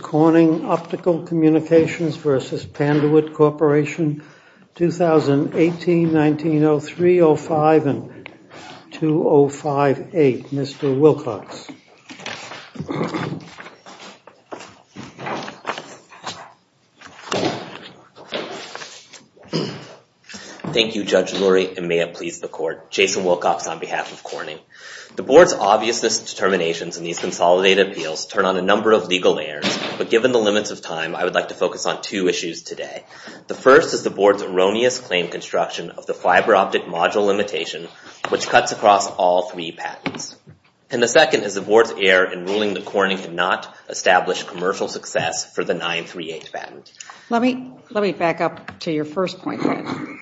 Corning Optical Communications v. Panduit Corp. Corp. 2018, 1903, 05, and 2058. Mr. Wilcox. Thank you, Judge Lurie, and may it please the Court. Jason Wilcox on behalf of Corning. The Board's obvious determinations in these consolidated appeals turn on a number of legal layers, but given the limits of time, I would like to focus on two issues today. The first is the Board's erroneous claim construction of the fiber optic module limitation, which cuts across all three patents. And the second is the Board's error in ruling that Corning could not establish commercial success for the 938 patent. Let me back up to your first point.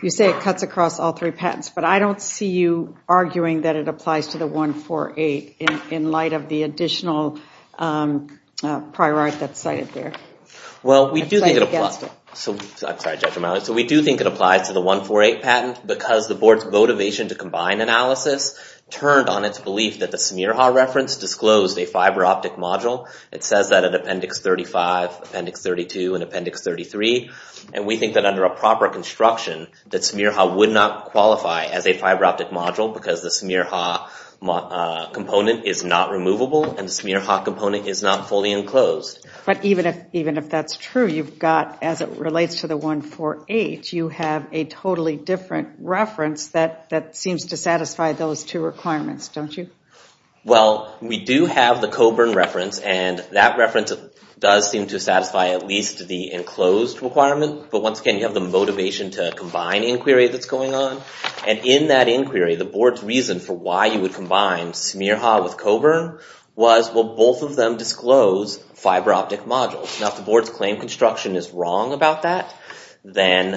You say it cuts across all three patents, but I don't see you arguing that it applies to the 148 in light of the additional prior art that's cited there. Well, we do think it applies to the 148 patent because the Board's motivation to combine analysis turned on its belief that the Smirhoff reference disclosed a fiber optic module. It says that in Appendix 35, Appendix 32, and Appendix 33. And we think that under a proper construction, that Smirhoff would not qualify as a fiber optic module because the Smirhoff component is not removable and the Smirhoff component is not fully enclosed. But even if that's true, you've got, as it relates to the 148, you have a totally different reference that seems to satisfy those two requirements, don't you? Well, we do have the Coburn reference, and that reference does seem to satisfy at least the enclosed requirement. But once again, you have the motivation to combine inquiry that's going on. And in that inquiry, the Board's reason for why you would combine Smirhoff with Coburn was, well, both of them disclose fiber optic modules. Now, if the Board's claim construction is wrong about that, then,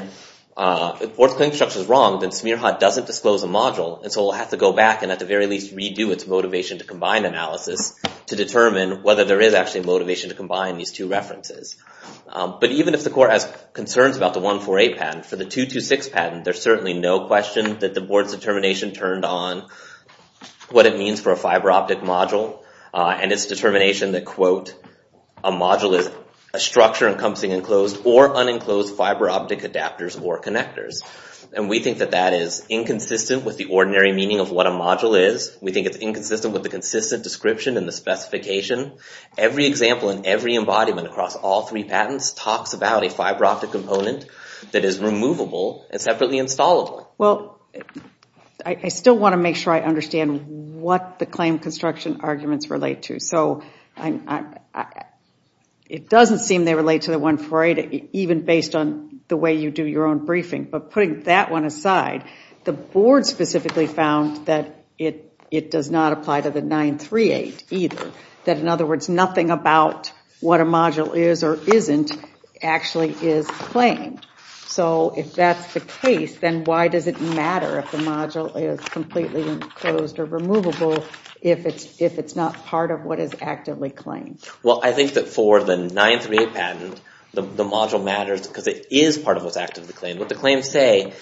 if the Board's claim construction is wrong, then Smirhoff doesn't disclose a module. And so it'll have to go back and at the very least redo its motivation to combine analysis to determine whether there is actually motivation to combine these two references. But even if the Court has concerns about the 148 patent, for the 226 patent, there's certainly no question that the Board's determination turned on what it means for a fiber optic module. And its determination that, quote, a module is a structure encompassing enclosed or unenclosed fiber optic adapters or connectors. And we think that that is inconsistent with the ordinary meaning of what a module is. We think it's inconsistent with the consistent description and the specification. Every example and every embodiment across all three patents talks about a fiber optic component that is removable and separately installable. Well, I still want to make sure I understand what the claim construction arguments relate to. So it doesn't seem they relate to the 148, even based on the way you do your own briefing. But putting that one aside, the Board specifically found that it does not apply to the 938 either. That, in other words, nothing about what a module is or isn't actually is claimed. So if that's the case, then why does it matter if the module is completely enclosed or removable if it's not part of what is actively claimed? Well, I think that for the 938 patent, the module matters because it is part of what's actively claimed. What the claims say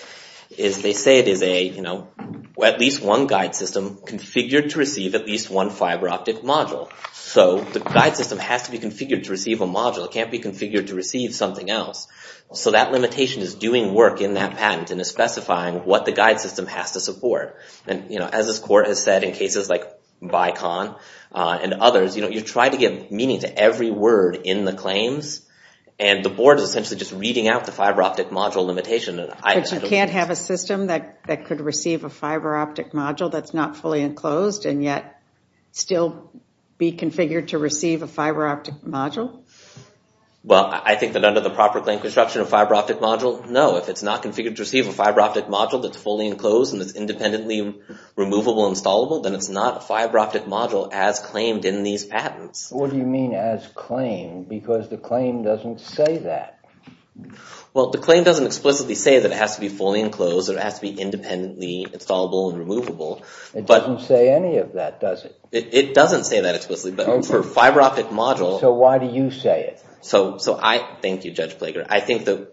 is they say it is at least one guide system configured to receive at least one fiber optic module. So the guide system has to be configured to receive a module. It can't be configured to receive something else. So that limitation is doing work in that patent and is specifying what the guide system has to support. And as this Court has said in cases like BICON and others, you try to give meaning to every word in the claims. And the Board is essentially just reading out the fiber optic module limitation. But you can't have a system that could receive a fiber optic module that's not fully enclosed and yet still be configured to receive a fiber optic module? Well, I think that under the proper claim construction of fiber optic module, no. If it's not configured to receive a fiber optic module that's fully enclosed and is independently removable and installable, then it's not a fiber optic module as claimed in these patents. What do you mean as claimed? Because the claim doesn't say that. Well, the claim doesn't explicitly say that it has to be fully enclosed or it has to be independently installable and removable. It doesn't say any of that, does it? It doesn't say that explicitly. But for fiber optic module... So why do you say it? Thank you, Judge Plager. I think that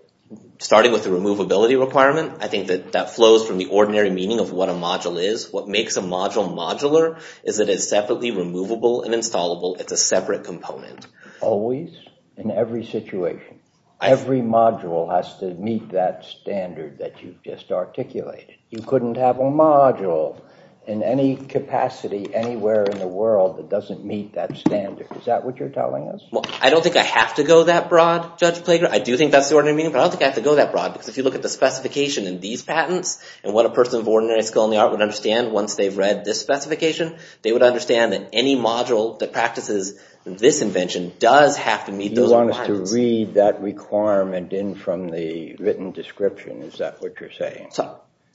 starting with the removability requirement, I think that that flows from the ordinary meaning of what a module is. What makes a module modular is it is separately removable and installable. It's a separate component. Always, in every situation, every module has to meet that standard that you just articulated. You couldn't have a module in any capacity anywhere in the world that doesn't meet that standard. Is that what you're telling us? Well, I don't think I have to go that broad, Judge Plager. I do think that's the ordinary meaning, but I don't think I have to go that broad because if you look at the specification in these patents and what a person of ordinary skill in the art would understand once they've read this specification, they would understand that any module that practices this invention does have to meet those requirements. You want us to read that requirement in from the written description. Is that what you're saying?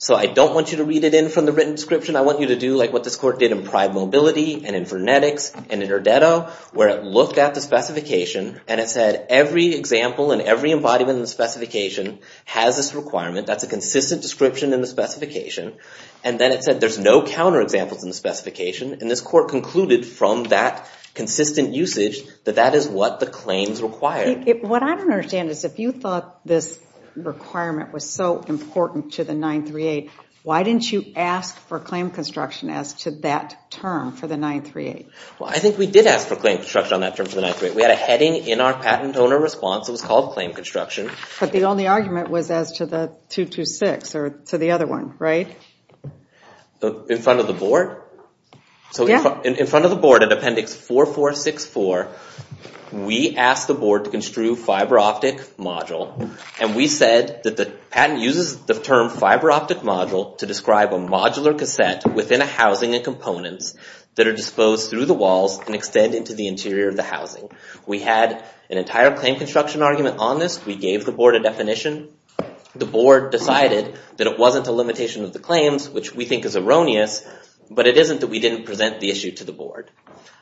So I don't want you to read it in from the written description. I want you to do like what this court did in Pride Mobility and in Vernetics and in Erdetto, where it looked at the specification and it said every example and every embodiment in the specification has this requirement. That's a consistent description in the specification. And then it said there's no counterexamples in the specification. And this court concluded from that consistent usage that that is what the claims require. What I don't understand is if you thought this requirement was so important to the 938, why didn't you ask for claim construction as to that term for the 938? Well, I think we did ask for claim construction on that term for the 938. We had a heading in our patent owner response. It was called claim construction. But the only argument was as to the 226 or to the other one, right? In front of the board? Yeah. So in front of the board at Appendix 4464, we asked the board to construe fiber optic module. And we said that the patent uses the term fiber optic module to describe a modular cassette within a housing and components that are disposed through the walls and extend into the interior of the housing. We had an entire claim construction argument on this. We gave the board a definition. The board decided that it wasn't a limitation of the claims, which we think is erroneous. But it isn't that we didn't present the issue to the board.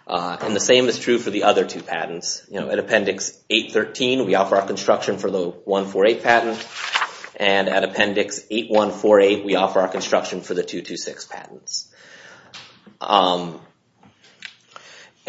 And the same is true for the other two patents. At Appendix 813, we offer our construction for the 148 patent. And at Appendix 8148, we offer our construction for the 226 patents.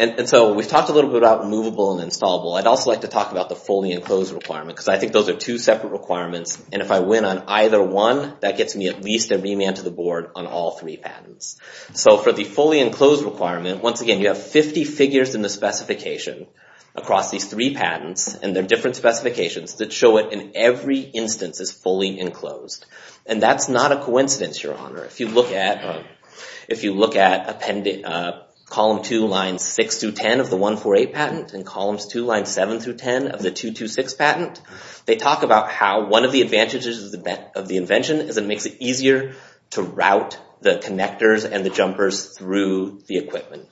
And so we've talked a little bit about movable and installable. I'd also like to talk about the fully enclosed requirement, because I think those are two separate requirements. And if I win on either one, that gets me at least a remand to the board on all three patents. So for the fully enclosed requirement, once again, you have 50 figures in the specification across these three patents. And they're different specifications that show it in every instance is fully enclosed. And that's not a coincidence, Your Honor. If you look at Column 2, Lines 6 through 10 of the 148 patent and Columns 2, Lines 7 through 10 of the 226 patent, they talk about how one of the advantages of the invention is it makes it easier to route the connectors and the jumpers through the equipment.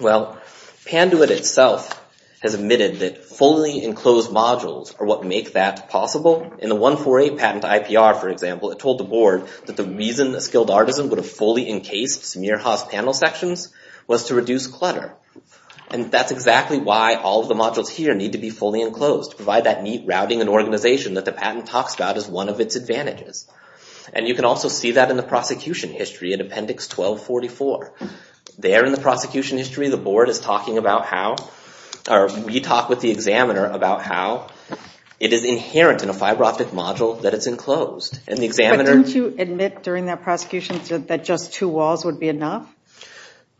Well, Panduit itself has admitted that fully enclosed modules are what make that possible. In the 148 patent IPR, for example, it told the board that the reason a skilled artisan would have fully encased smear hoss panel sections was to reduce clutter. And that's exactly why all of the modules here need to be fully enclosed, to provide that neat routing and organization that the patent talks about as one of its advantages. And you can also see that in the prosecution history in Appendix 1244. There in the prosecution history, the board is talking about how, or we talk with the examiner about how it is inherent in a fiber optic module that it's enclosed. And the examiner... But didn't you admit during that prosecution that just two walls would be enough?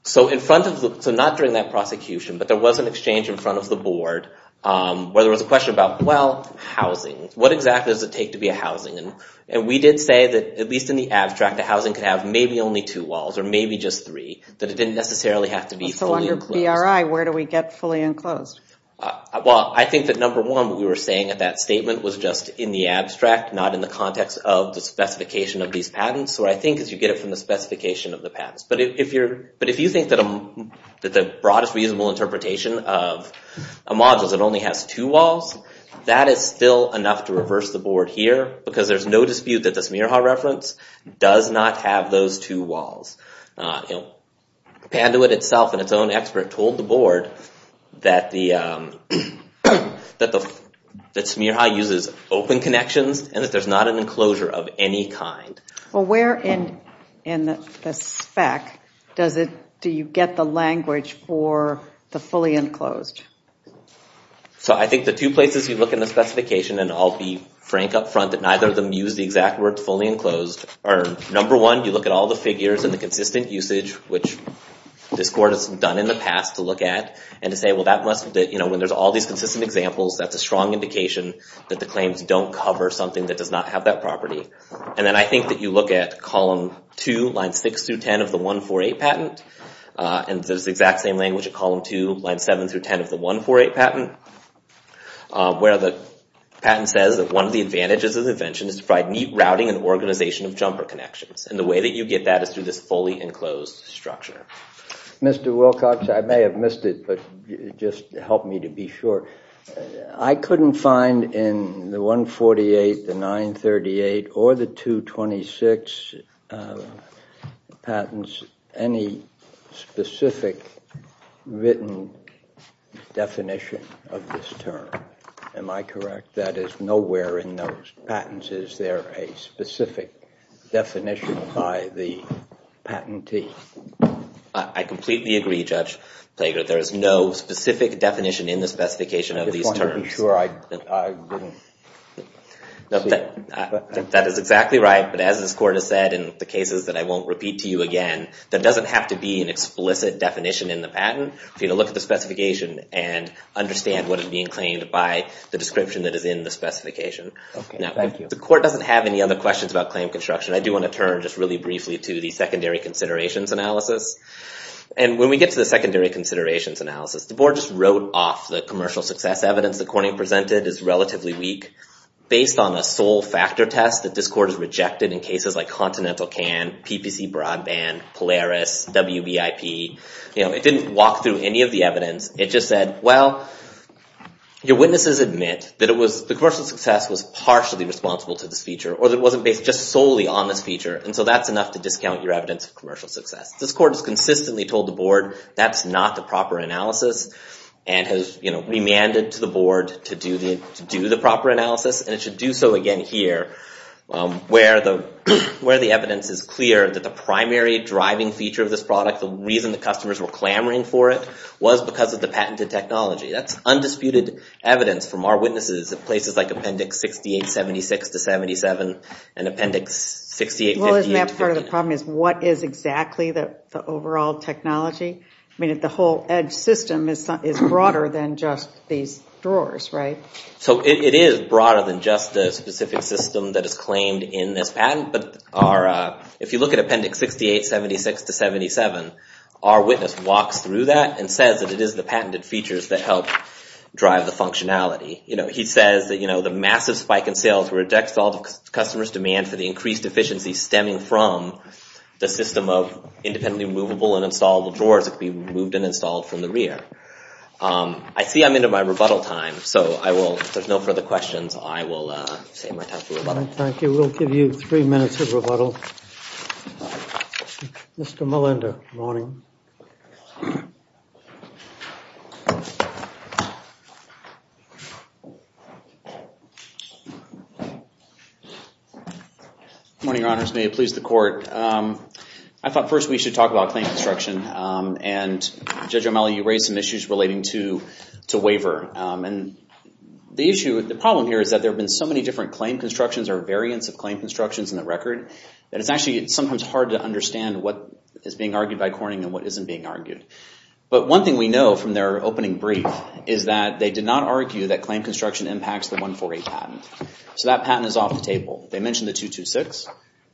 So in front of the... So not during that prosecution, but there was an exchange in front of the board where there was a question about, well, housing. What exactly does it take to be a housing? And we did say that at least in the abstract, the housing could have maybe only two walls or maybe just three, that it didn't necessarily have to be fully enclosed. So under BRI, where do we get fully enclosed? Well, I think that number one, what we were saying at that statement was just in the abstract, not in the context of the specification of these patents. So what I think is you get it from the specification of the patents. But if you think that the broadest reasonable interpretation of a module that only has two walls, that is still enough to reverse the board here because there's no dispute that the Smearhaw reference does not have those two walls. Panduit itself and its own expert told the board that Smearhaw uses open connections and that there's not an enclosure of any kind. Well, where in the spec do you get the language for the fully enclosed? So I think the two places you look in the specification, and I'll be frank up front that neither of them use the exact word fully enclosed, are number one, you look at all the figures and the consistent usage, which this court has done in the past to look at, and to say, well, that must be, you know, when there's all these consistent examples, that's a strong indication that the claims don't cover something that does not have that property. And then I think that you look at column two, line six through 10 of the 148 patent, and there's the exact same language at column two, line seven through 10 of the 148 patent, where the patent says that one of the advantages of the invention is to provide neat routing and organization of jumper connections. And the way that you get that is through this fully enclosed structure. Mr. Wilcox, I may have missed it, but just help me to be sure. I couldn't find in the 148, the 938, or the 226 patents any specific written definition of this term. Am I correct? That is nowhere in those patents. Is there a specific definition by the patentee? I completely agree, Judge Plager. There is no specific definition in the specification of these terms. I just wanted to be sure. That is exactly right, but as this court has said in the cases that I won't repeat to you again, that doesn't have to be an explicit definition in the patent. You need to look at the specification and understand what is being claimed by the description that is in the specification. If the court doesn't have any other questions about claim construction, I do want to turn just really briefly to the secondary considerations analysis. When we get to the secondary considerations analysis, the board just wrote off the commercial success evidence that Corning presented is relatively weak. Based on a sole factor test, that this court has rejected in cases like Continental CAN, PPC Broadband, Polaris, WBIP. It didn't walk through any of the evidence. It just said, well, your witnesses admit that the commercial success was partially responsible to this feature, or that it wasn't based just solely on this feature, and so that's enough to discount your evidence of commercial success. This court has consistently told the board that's not the proper analysis, and has remanded to the board to do the proper analysis, and it should do so again here, where the evidence is clear that the primary driving feature of this product, the reason the customers were clamoring for it, was because of the patented technology. That's undisputed evidence from our witnesses at places like Appendix 6876 to 77, and Appendix 6858 to 18. Well, isn't that part of the problem, is what is exactly the overall technology? I mean, the whole edge system is broader than just these drawers, right? So it is broader than just the specific system that is claimed in this patent, but if you look at Appendix 6876 to 77, our witness walks through that and says that it is the patented features that help drive the functionality. You know, he says that, you know, the massive spike in sales rejects all the customers' demand for the increased efficiency stemming from the system of independently removable and installable drawers that can be removed and installed from the rear. I see I'm into my rebuttal time, so if there's no further questions, I will save my time for rebuttal. Thank you. Mr. Malinder. Good morning. Good morning. Good morning, Your Honors. May it please the Court. I thought first we should talk about claim construction, and Judge O'Malley, you raised some issues relating to waiver, and the issue, the problem here is that there have been so many different claim constructions or variants of claim constructions in the record that it's actually sometimes hard to understand what is being argued by Corning and what isn't being argued. But one thing we know from their opening brief is that they did not argue that claim construction impacts the 148 patent. So that patent is off the table. They mentioned the 226.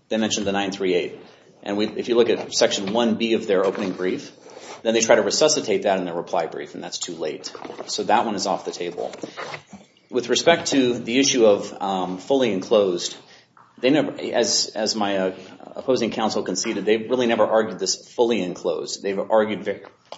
They mentioned the 938. And if you look at Section 1B of their opening brief, then they try to resuscitate that in their reply brief, and that's too late. So that one is off the table. With respect to the issue of fully enclosed, as my opposing counsel conceded, they've really never argued this fully enclosed. They've argued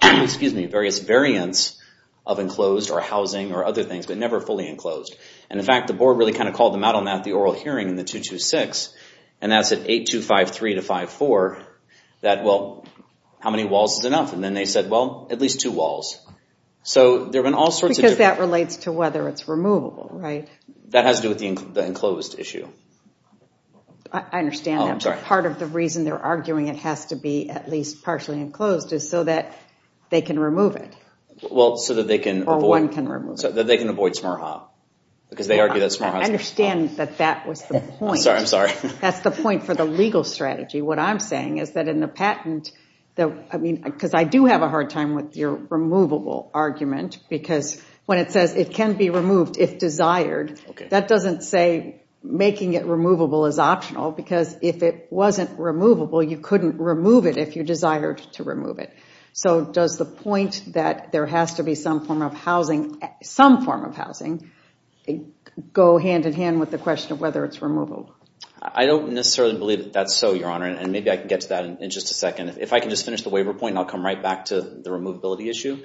various variants of enclosed or housing or other things, but never fully enclosed. And in fact, the Board really kind of called them out on that at the oral hearing in the 226, and that's at 8253 to 544, that, well, how many walls is enough? And then they said, well, at least two walls. So there have been all sorts of different... Because that relates to whether it's removable, right? That has to do with the enclosed issue. I understand that, but part of the reason they're arguing it has to be at least partially enclosed is so that they can remove it. Well, so that they can avoid... Or one can remove it. So that they can avoid smarha. Because they argue that smarha... I understand that that was the point. I'm sorry, I'm sorry. That's the point for the legal strategy. What I'm saying is that in the patent, I mean, because I do have a hard time with your removable argument, because when it says it can be removed if desired, that doesn't say making it removable is optional, because if it wasn't removable, you couldn't remove it if you desired to remove it. So does the point that there has to be some form of housing, some form of housing, go hand-in-hand with the question of whether it's removable? I don't necessarily believe that that's so, Your Honor, and maybe I can get to that in just a second. If I can just finish the waiver point, I'll come right back to the removability issue.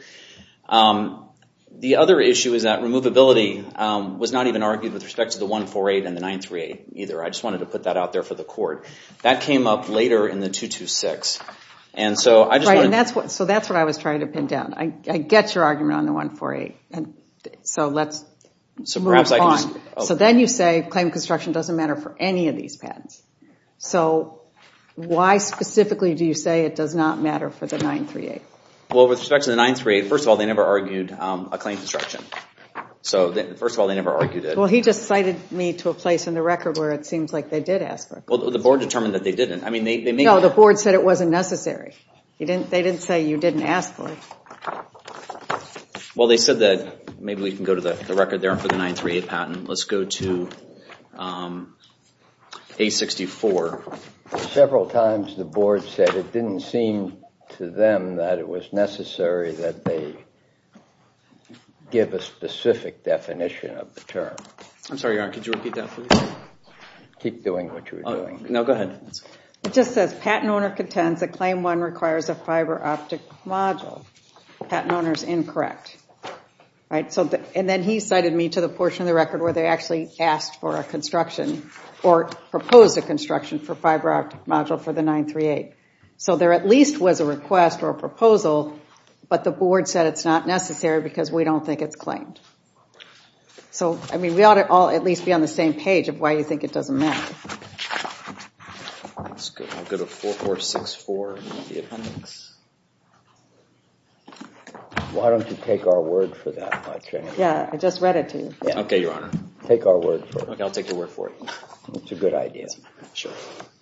The other issue is that removability was not even argued with respect to the 148 and the 938 either. I just wanted to put that out there for the Court. That came up later in the 226. So that's what I was trying to pin down. I get your argument on the 148. So let's move on. So then you say claim construction doesn't matter for any of these patents. So why specifically do you say it does not matter for the 938? Well, with respect to the 938, first of all, they never argued a claim construction. So first of all, they never argued it. Well, he just cited me to a place in the record where it seems like they did ask for it. Well, the board determined that they didn't. No, the board said it wasn't necessary. They didn't say you didn't ask for it. Well, they said that maybe we can go to the record there for the 938 patent. Let's go to 864. Several times the board said it didn't seem to them that it was necessary that they give a specific definition of the term. I'm sorry, Your Honor. Could you repeat that, please? Keep doing what you were doing. No, go ahead. It just says, patent owner contends that claim one requires a fiber optic module. Patent owner's incorrect. And then he cited me to the portion of the record where they actually asked for a construction or proposed a construction for fiber optic module for the 938. So there at least was a request or a proposal, but the board said it's not necessary because we don't think it's claimed. So, I mean, we ought to all at least be on the same page of why you think it doesn't matter. Let's go to 4464 in the appendix. Why don't you take our word for that? Yeah, I just read it to you. OK, Your Honor. Take our word for it. OK, I'll take your word for it. It's a good idea. Sure.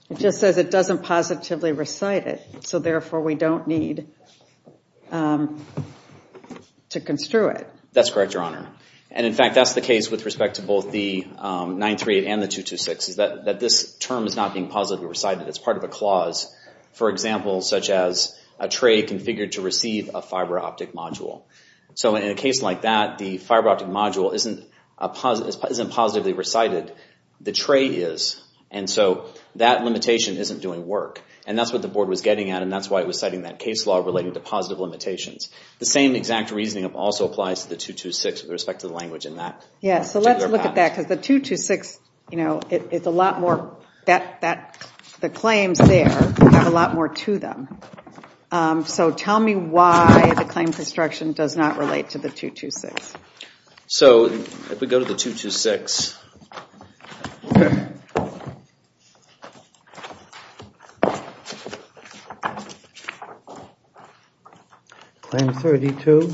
It just says it doesn't positively recite it, so therefore we don't need to construe it. That's correct, Your Honor. And in fact, that's the case with respect to both the 938 and the 226 is that this term is not being positively recited. It's part of a clause. For example, such as a tray configured to receive a fiber optic module. So in a case like that, the fiber optic module isn't positively recited. The tray is. And so that limitation isn't doing work. And that's what the board was getting at. And that's why it was citing that case law relating to positive limitations. The same exact reasoning also applies to the 226 with respect to the language in that particular passage. Yeah, so let's look at that. Because the 226, it's a lot more, the claims there have a lot more to them. So tell me why the claim construction does not relate to the 226. So if we go to the 226. Claim 32.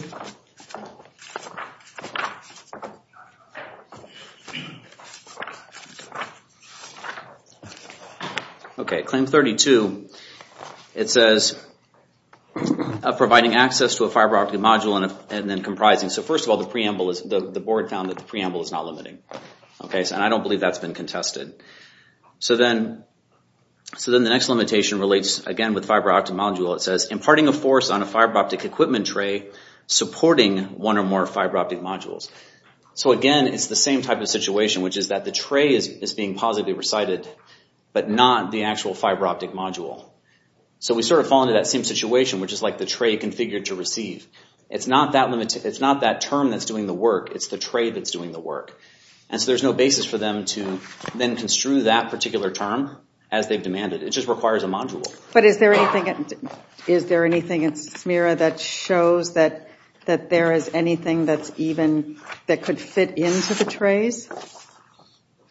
OK, claim 32. It says, providing access to a fiber optic module and then comprising. So first of all, the board found that the preamble is not limiting. And I don't believe that's been contested. So then the next limitation relates again with fiber optic module. It says, imparting a force on a fiber optic equipment tray supporting one or more fiber optic modules. So again, it's the same type of situation, which is that the tray is being positively recited but not the actual fiber optic module. So we sort of fall into that same situation, which is like the tray configured to receive. It's not that term that's doing the work. It's the tray that's doing the work. And so there's no basis for them to then construe that particular term as they've demanded. It just requires a module. But is there anything in SMIRA that shows that there is anything that's even, that could fit into the trays?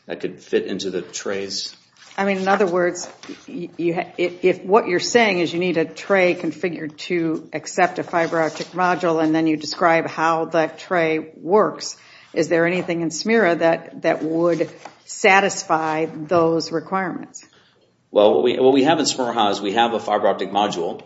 That could fit into the trays? I mean, in other words, if what you're saying is you need a tray configured to accept a fiber optic module and then you describe how that tray works, is there anything in SMIRA that would satisfy those requirements? Well, what we have in SMIRAHA is we have a fiber optic module.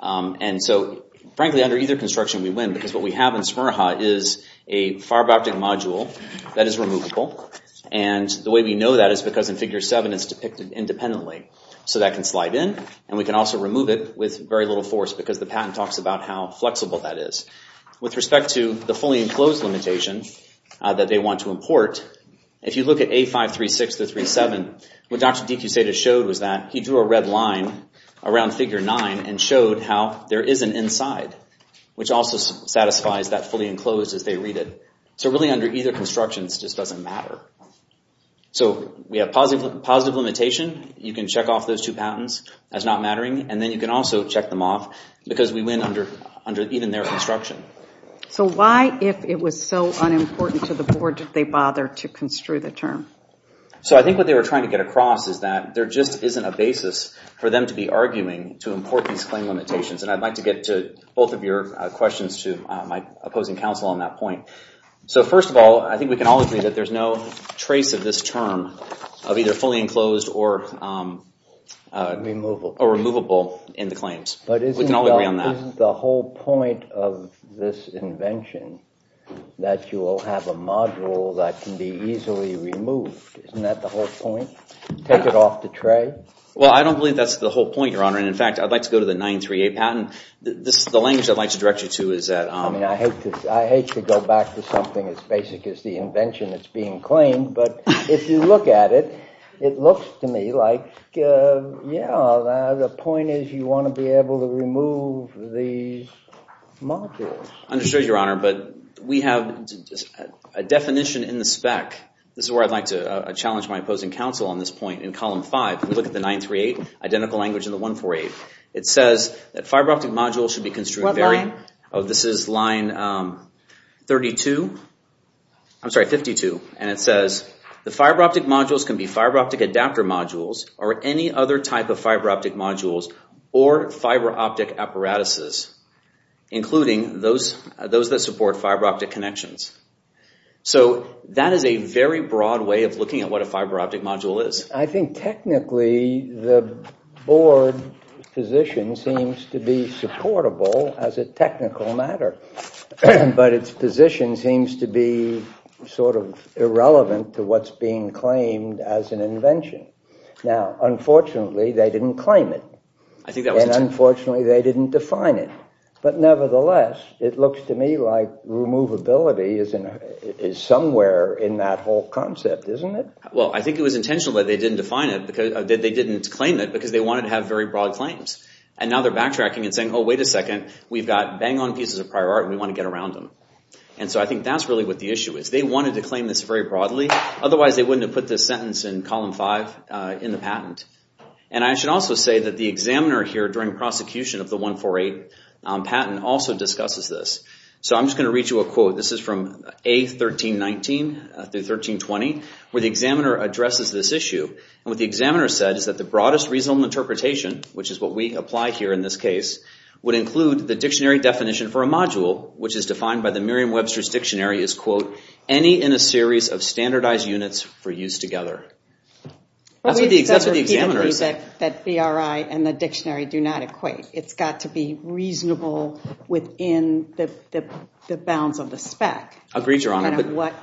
And so, frankly, under either construction we win because what we have in SMIRAHA is a fiber optic module that is removable. And the way we know that is because in Figure 7 it's depicted independently. So that can slide in. And we can also remove it with very little force because the patent talks about how flexible that is. With respect to the fully enclosed limitation that they want to import, if you look at A536-37, what Dr. DeCussetta showed was that he drew a red line around Figure 9 and showed how there is an inside, which also satisfies that fully enclosed as they read it. So really under either construction, it just doesn't matter. So we have positive limitation. You can check off those two patents as not mattering. And then you can also check them off because we win under even their construction. So why, if it was so unimportant to the Board, did they bother to construe the term? So I think what they were trying to get across is that there just isn't a basis for them to be arguing to import these claim limitations. And I'd like to get to both of your questions to my opposing counsel on that point. So first of all, I think we can all agree that there's no trace of this term of either fully enclosed or removable in the claims. We can all agree on that. But isn't the whole point of this invention that you will have a module that can be easily removed? Isn't that the whole point? Take it off the tray? Well, I don't believe that's the whole point, Your Honor. And in fact, I'd like to go to the 938 patent. The language I'd like to direct you to is that... I mean, I hate to go back to something as basic as the invention that's being claimed. But if you look at it, it looks to me like, yeah, the point is you want to be able to remove these modules. Understood, Your Honor. But we have a definition in the spec. This is where I'd like to challenge my opposing counsel on this point. In column 5, we look at the 938, identical language in the 148. It says that fiber optic modules should be construed... What line? Oh, this is line 32. I'm sorry, 52. And it says the fiber optic modules can be fiber optic adapter modules or any other type of fiber optic modules or fiber optic apparatuses, including those that support fiber optic connections. So that is a very broad way of looking at what a fiber optic module is. I think technically the board position seems to be supportable as a technical matter. But its position seems to be sort of irrelevant to what's being claimed as an invention. Now, unfortunately, they didn't claim it. And unfortunately, they didn't define it. But nevertheless, it looks to me like removability is somewhere in that whole concept, isn't it? Well, I think it was intentional that they didn't claim it because they wanted to have very broad claims. And now they're backtracking and saying, Oh, wait a second. We've got bang-on pieces of prior art and we want to get around them. And so I think that's really what the issue is. They wanted to claim this very broadly. Otherwise, they wouldn't have put this sentence in column 5 in the patent. And I should also say that the examiner here during prosecution of the 148 patent also discusses this. So I'm just going to read you a quote. This is from A1319 through 1320 where the examiner addresses this issue. And what the examiner said is that the broadest reasonable interpretation, which is what we apply here in this case, would include the dictionary definition for a module, which is defined by the Merriam-Webster's Dictionary, is, quote, any in a series of standardized units for use together. That's what the examiner said. That BRI and the dictionary do not equate. It's got to be reasonable within the bounds of the spec. Agreed, Your Honor. What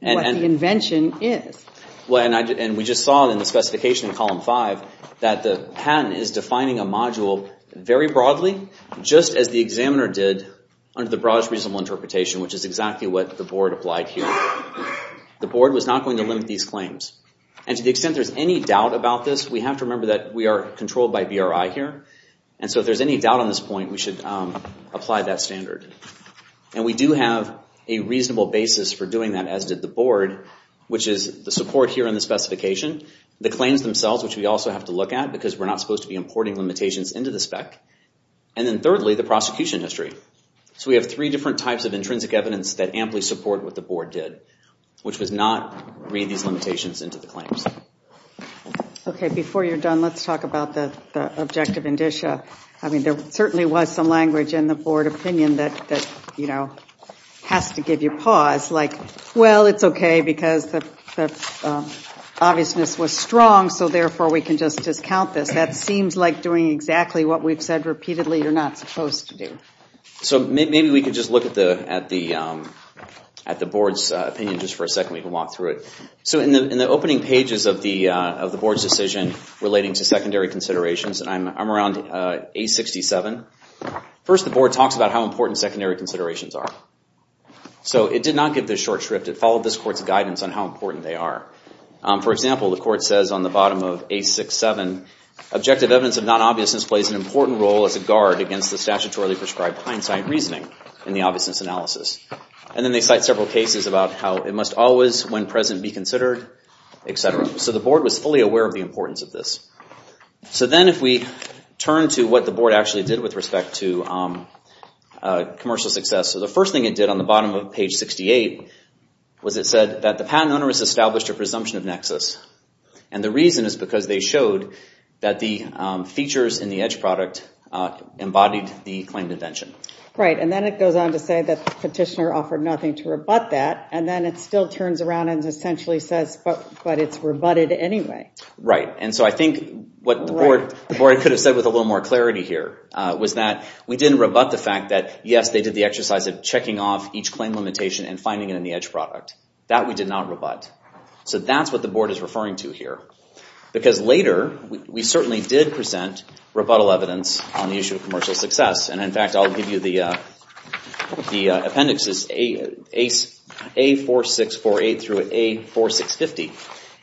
the invention is. And we just saw in the specification in column 5 that the patent is defining a module very broadly, just as the examiner did under the broadest reasonable interpretation, which is exactly what the board applied here. The board was not going to limit these claims. And to the extent there's any doubt about this, we have to remember that we are controlled by BRI here. And so if there's any doubt on this point, we should apply that standard. And we do have a reasonable basis for doing that, as did the board, which is the support here in the specification, the claims themselves, which we also have to look at because we're not supposed to be importing limitations into the spec, and then thirdly, the prosecution history. So we have three different types of intrinsic evidence that amply support what the board did, which was not read these limitations into the claims. Okay, before you're done, let's talk about the objective indicia. I mean, there certainly was some language in the board opinion that has to give you pause, like, well, it's okay because the obviousness was strong, so therefore we can just discount this. That seems like doing exactly what we've said repeatedly you're not supposed to do. So maybe we could just look at the board's opinion just for a second. We can walk through it. So in the opening pages of the board's decision relating to secondary considerations, and I'm around A67, first the board talks about how important secondary considerations are. So it did not give this short script. It followed this court's guidance on how important they are. For example, the court says on the bottom of A67, objective evidence of non-obviousness plays an important role as a guard against the statutorily prescribed hindsight reasoning in the obviousness analysis. And then they cite several cases about how it must always, when present, be considered, etc. So the board was fully aware of the importance of this. So then if we turn to what the board actually did with respect to commercial success, so the first thing it did on the bottom of page 68 was it said that the patent owner has established a presumption of nexus. And the reason is because they showed that the features in the Edge product embodied the claimed invention. Right, and then it goes on to say that the petitioner offered nothing to rebut that, and then it still turns around and essentially says, but it's rebutted anyway. Right, and so I think what the board could have said with a little more clarity here was that we didn't rebut the fact that, yes, they did the exercise of checking off each claim limitation and finding it in the Edge product. That we did not rebut. So that's what the board is referring to here. Because later, we certainly did present rebuttal evidence on the issue of commercial success. And in fact, I'll give you the appendixes, A4648 through A4650.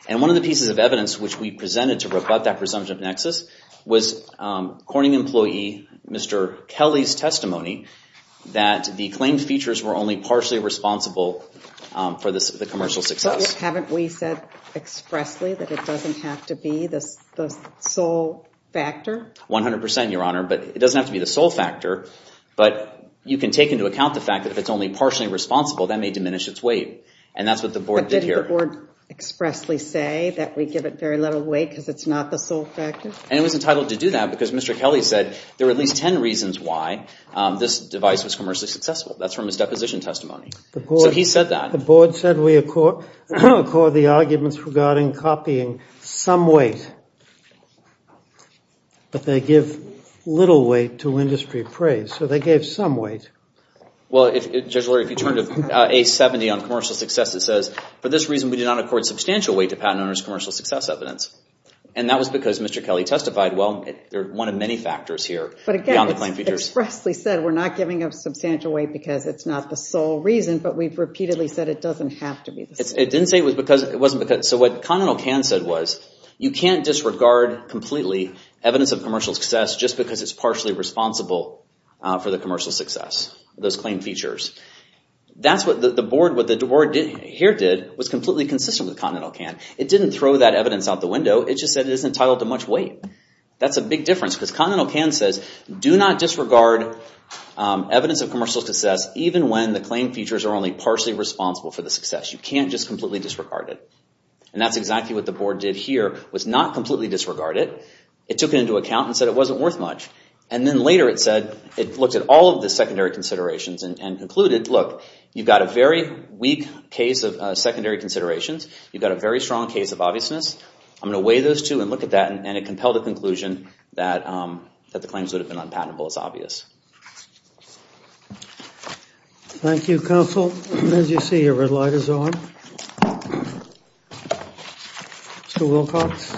And one of the pieces of evidence which we presented to rebut that presumption of nexus was Corning employee Mr. Kelly's testimony that the claimed features were only partially responsible for the commercial success. But haven't we said expressly that it doesn't have to be the sole factor? 100%, Your Honor. But it doesn't have to be the sole factor. But you can take into account the fact that if it's only partially responsible, that may diminish its weight. And that's what the board did here. But didn't the board expressly say that we give it very little weight because it's not the sole factor? And it was entitled to do that because Mr. Kelly said there were at least 10 reasons why this device was commercially successful. That's from his deposition testimony. So he said that. The board said we accord the arguments regarding copying some weight. But they give little weight to industry praise. So they gave some weight. Well, Judge Lurie, if you turn to A70 on commercial success, it says, for this reason, we do not accord substantial weight to patent owner's commercial success evidence. And that was because Mr. Kelly testified, well, they're one of many factors here beyond the claimed features. They expressly said we're not giving up substantial weight because it's not the sole reason. But we've repeatedly said it doesn't have to be the sole reason. It didn't say it was because. So what Continental CAN said was, you can't disregard completely evidence of commercial success just because it's partially responsible for the commercial success, those claimed features. That's what the board, what the board here did, was completely consistent with Continental CAN. It didn't throw that evidence out the window. It just said it isn't entitled to much weight. That's a big difference because Continental CAN says do not disregard evidence of commercial success even when the claimed features are only partially responsible for the success. You can't just completely disregard it. And that's exactly what the board did here, was not completely disregard it. It took it into account and said it wasn't worth much. And then later it said, it looked at all of the secondary considerations and concluded, look, you've got a very weak case of secondary considerations. You've got a very strong case of obviousness. I'm going to weigh those two and look at that. And it compelled the conclusion that the claims would have been unpatentable as obvious. Thank you, counsel. As you see, your red light is on. Mr. Wilcox.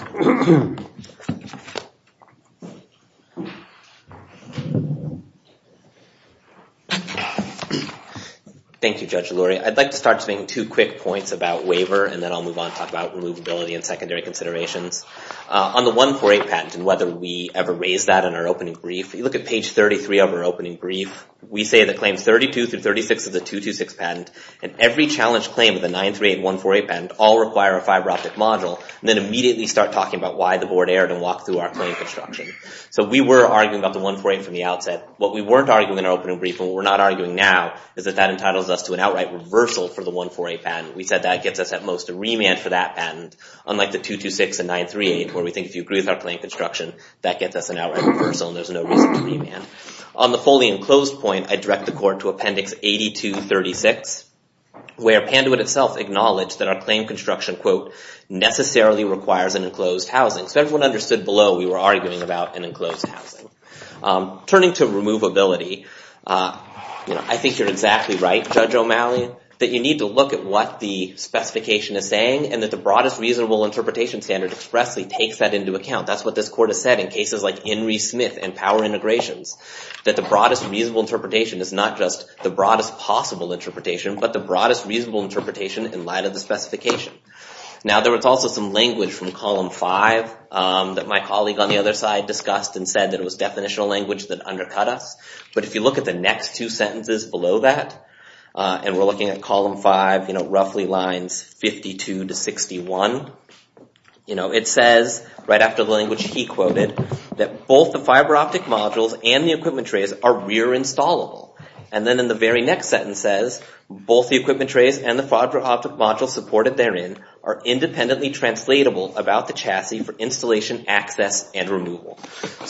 Thank you, Judge Lurie. I'd like to start to make two quick points about waiver and then I'll move on to talk about removability and secondary considerations. On the 1-4-8 patent and whether we ever raised that in our opening brief, if you look at page 33 of our opening brief, we say that claims 32 through 36 of the 2-2-6 patent and every challenge claim of the 9-3-8 and 1-4-8 patent all require a fiber optic module and then immediately start talking about why the board erred and walked through our claim construction. So we were arguing about the 1-4-8 from the outset. What we weren't arguing in our opening brief and what we're not arguing now is that that entitles us to an outright reversal for the 1-4-8 patent. We said that gets us at most a remand for that patent, unlike the 2-2-6 and 9-3-8 where we think if you agree with our claim construction, that gets us an outright reversal and there's no reason to remand. On the fully enclosed point, I direct the court to appendix 82-36 where Panduit itself acknowledged that our claim construction, quote, necessarily requires an enclosed housing. So everyone understood below we were arguing about an enclosed housing. Turning to removability, I think you're exactly right, Judge O'Malley, that you need to look at what the specification is saying and that the broadest reasonable interpretation standard expressly takes that into account. That's what this court has said in cases like Henry Smith and power integrations, that the broadest reasonable interpretation is not just the broadest possible interpretation, but the broadest reasonable interpretation in light of the specification. Now, there was also some language from column five that my colleague on the other side discussed and said that it was definitional language that undercut us. But if you look at the next two sentences below that and we're looking at column five, roughly lines 52 to 61, it says, right after the language he quoted, that both the fiber optic modules and the equipment trays are rear installable. And then in the very next sentence says, both the equipment trays and the fiber optic module supported therein are independently translatable about the chassis for installation, access, and removal.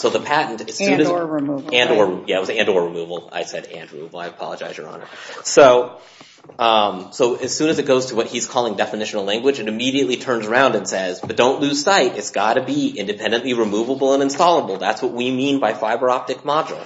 And or removal. Yeah, it was and or removal. I said and removal. I apologize, Your Honor. So as soon as it goes to what he's calling definitional language, it immediately turns around and says, but don't lose sight. It's gotta be independently removable and installable. That's what we mean by fiber optic module.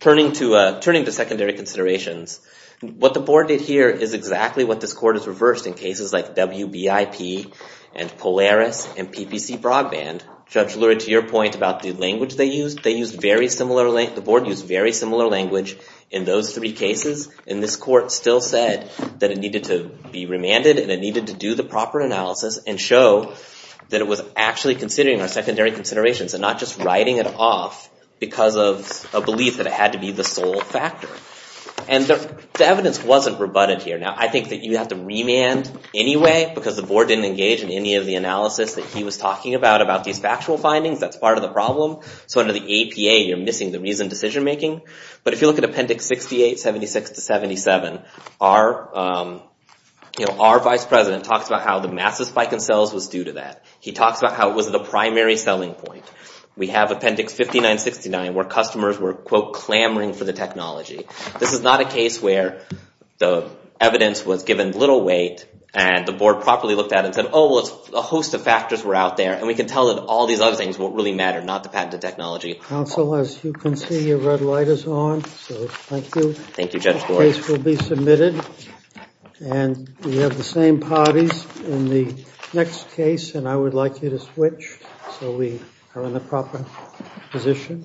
Turning to secondary considerations, what the board did here is exactly what this court has reversed in cases like WBIP and Polaris and PPC Broadband. Judge Lurie, to your point about the language they used, the board used very similar language in those three cases. And this court still said that it needed to be remanded and it needed to do the proper analysis and show that it was actually considering our secondary considerations and not just writing it off because of a belief that it had to be the sole factor. And the evidence wasn't rebutted here. Now I think that you have to remand anyway because the board didn't engage about these factual findings. That's part of the problem. So under the APA, you're missing the reasoned decision making. But if you look at Appendix 68, 76 to 77, our vice president talks about how the massive spike in sales was due to that. He talks about how it was the primary selling point. We have Appendix 59, 69 where customers were, quote, clamoring for the technology. This is not a case where the evidence was given little weight and the board properly looked at it and said, oh, well, a host of factors were out there and we can tell that all these other things won't really matter, not the patented technology. Counsel, as you can see, your red light is on. So thank you. Thank you, Judge Boyd. The case will be submitted. And we have the same parties in the next case and I would like you to switch so we are in the proper position.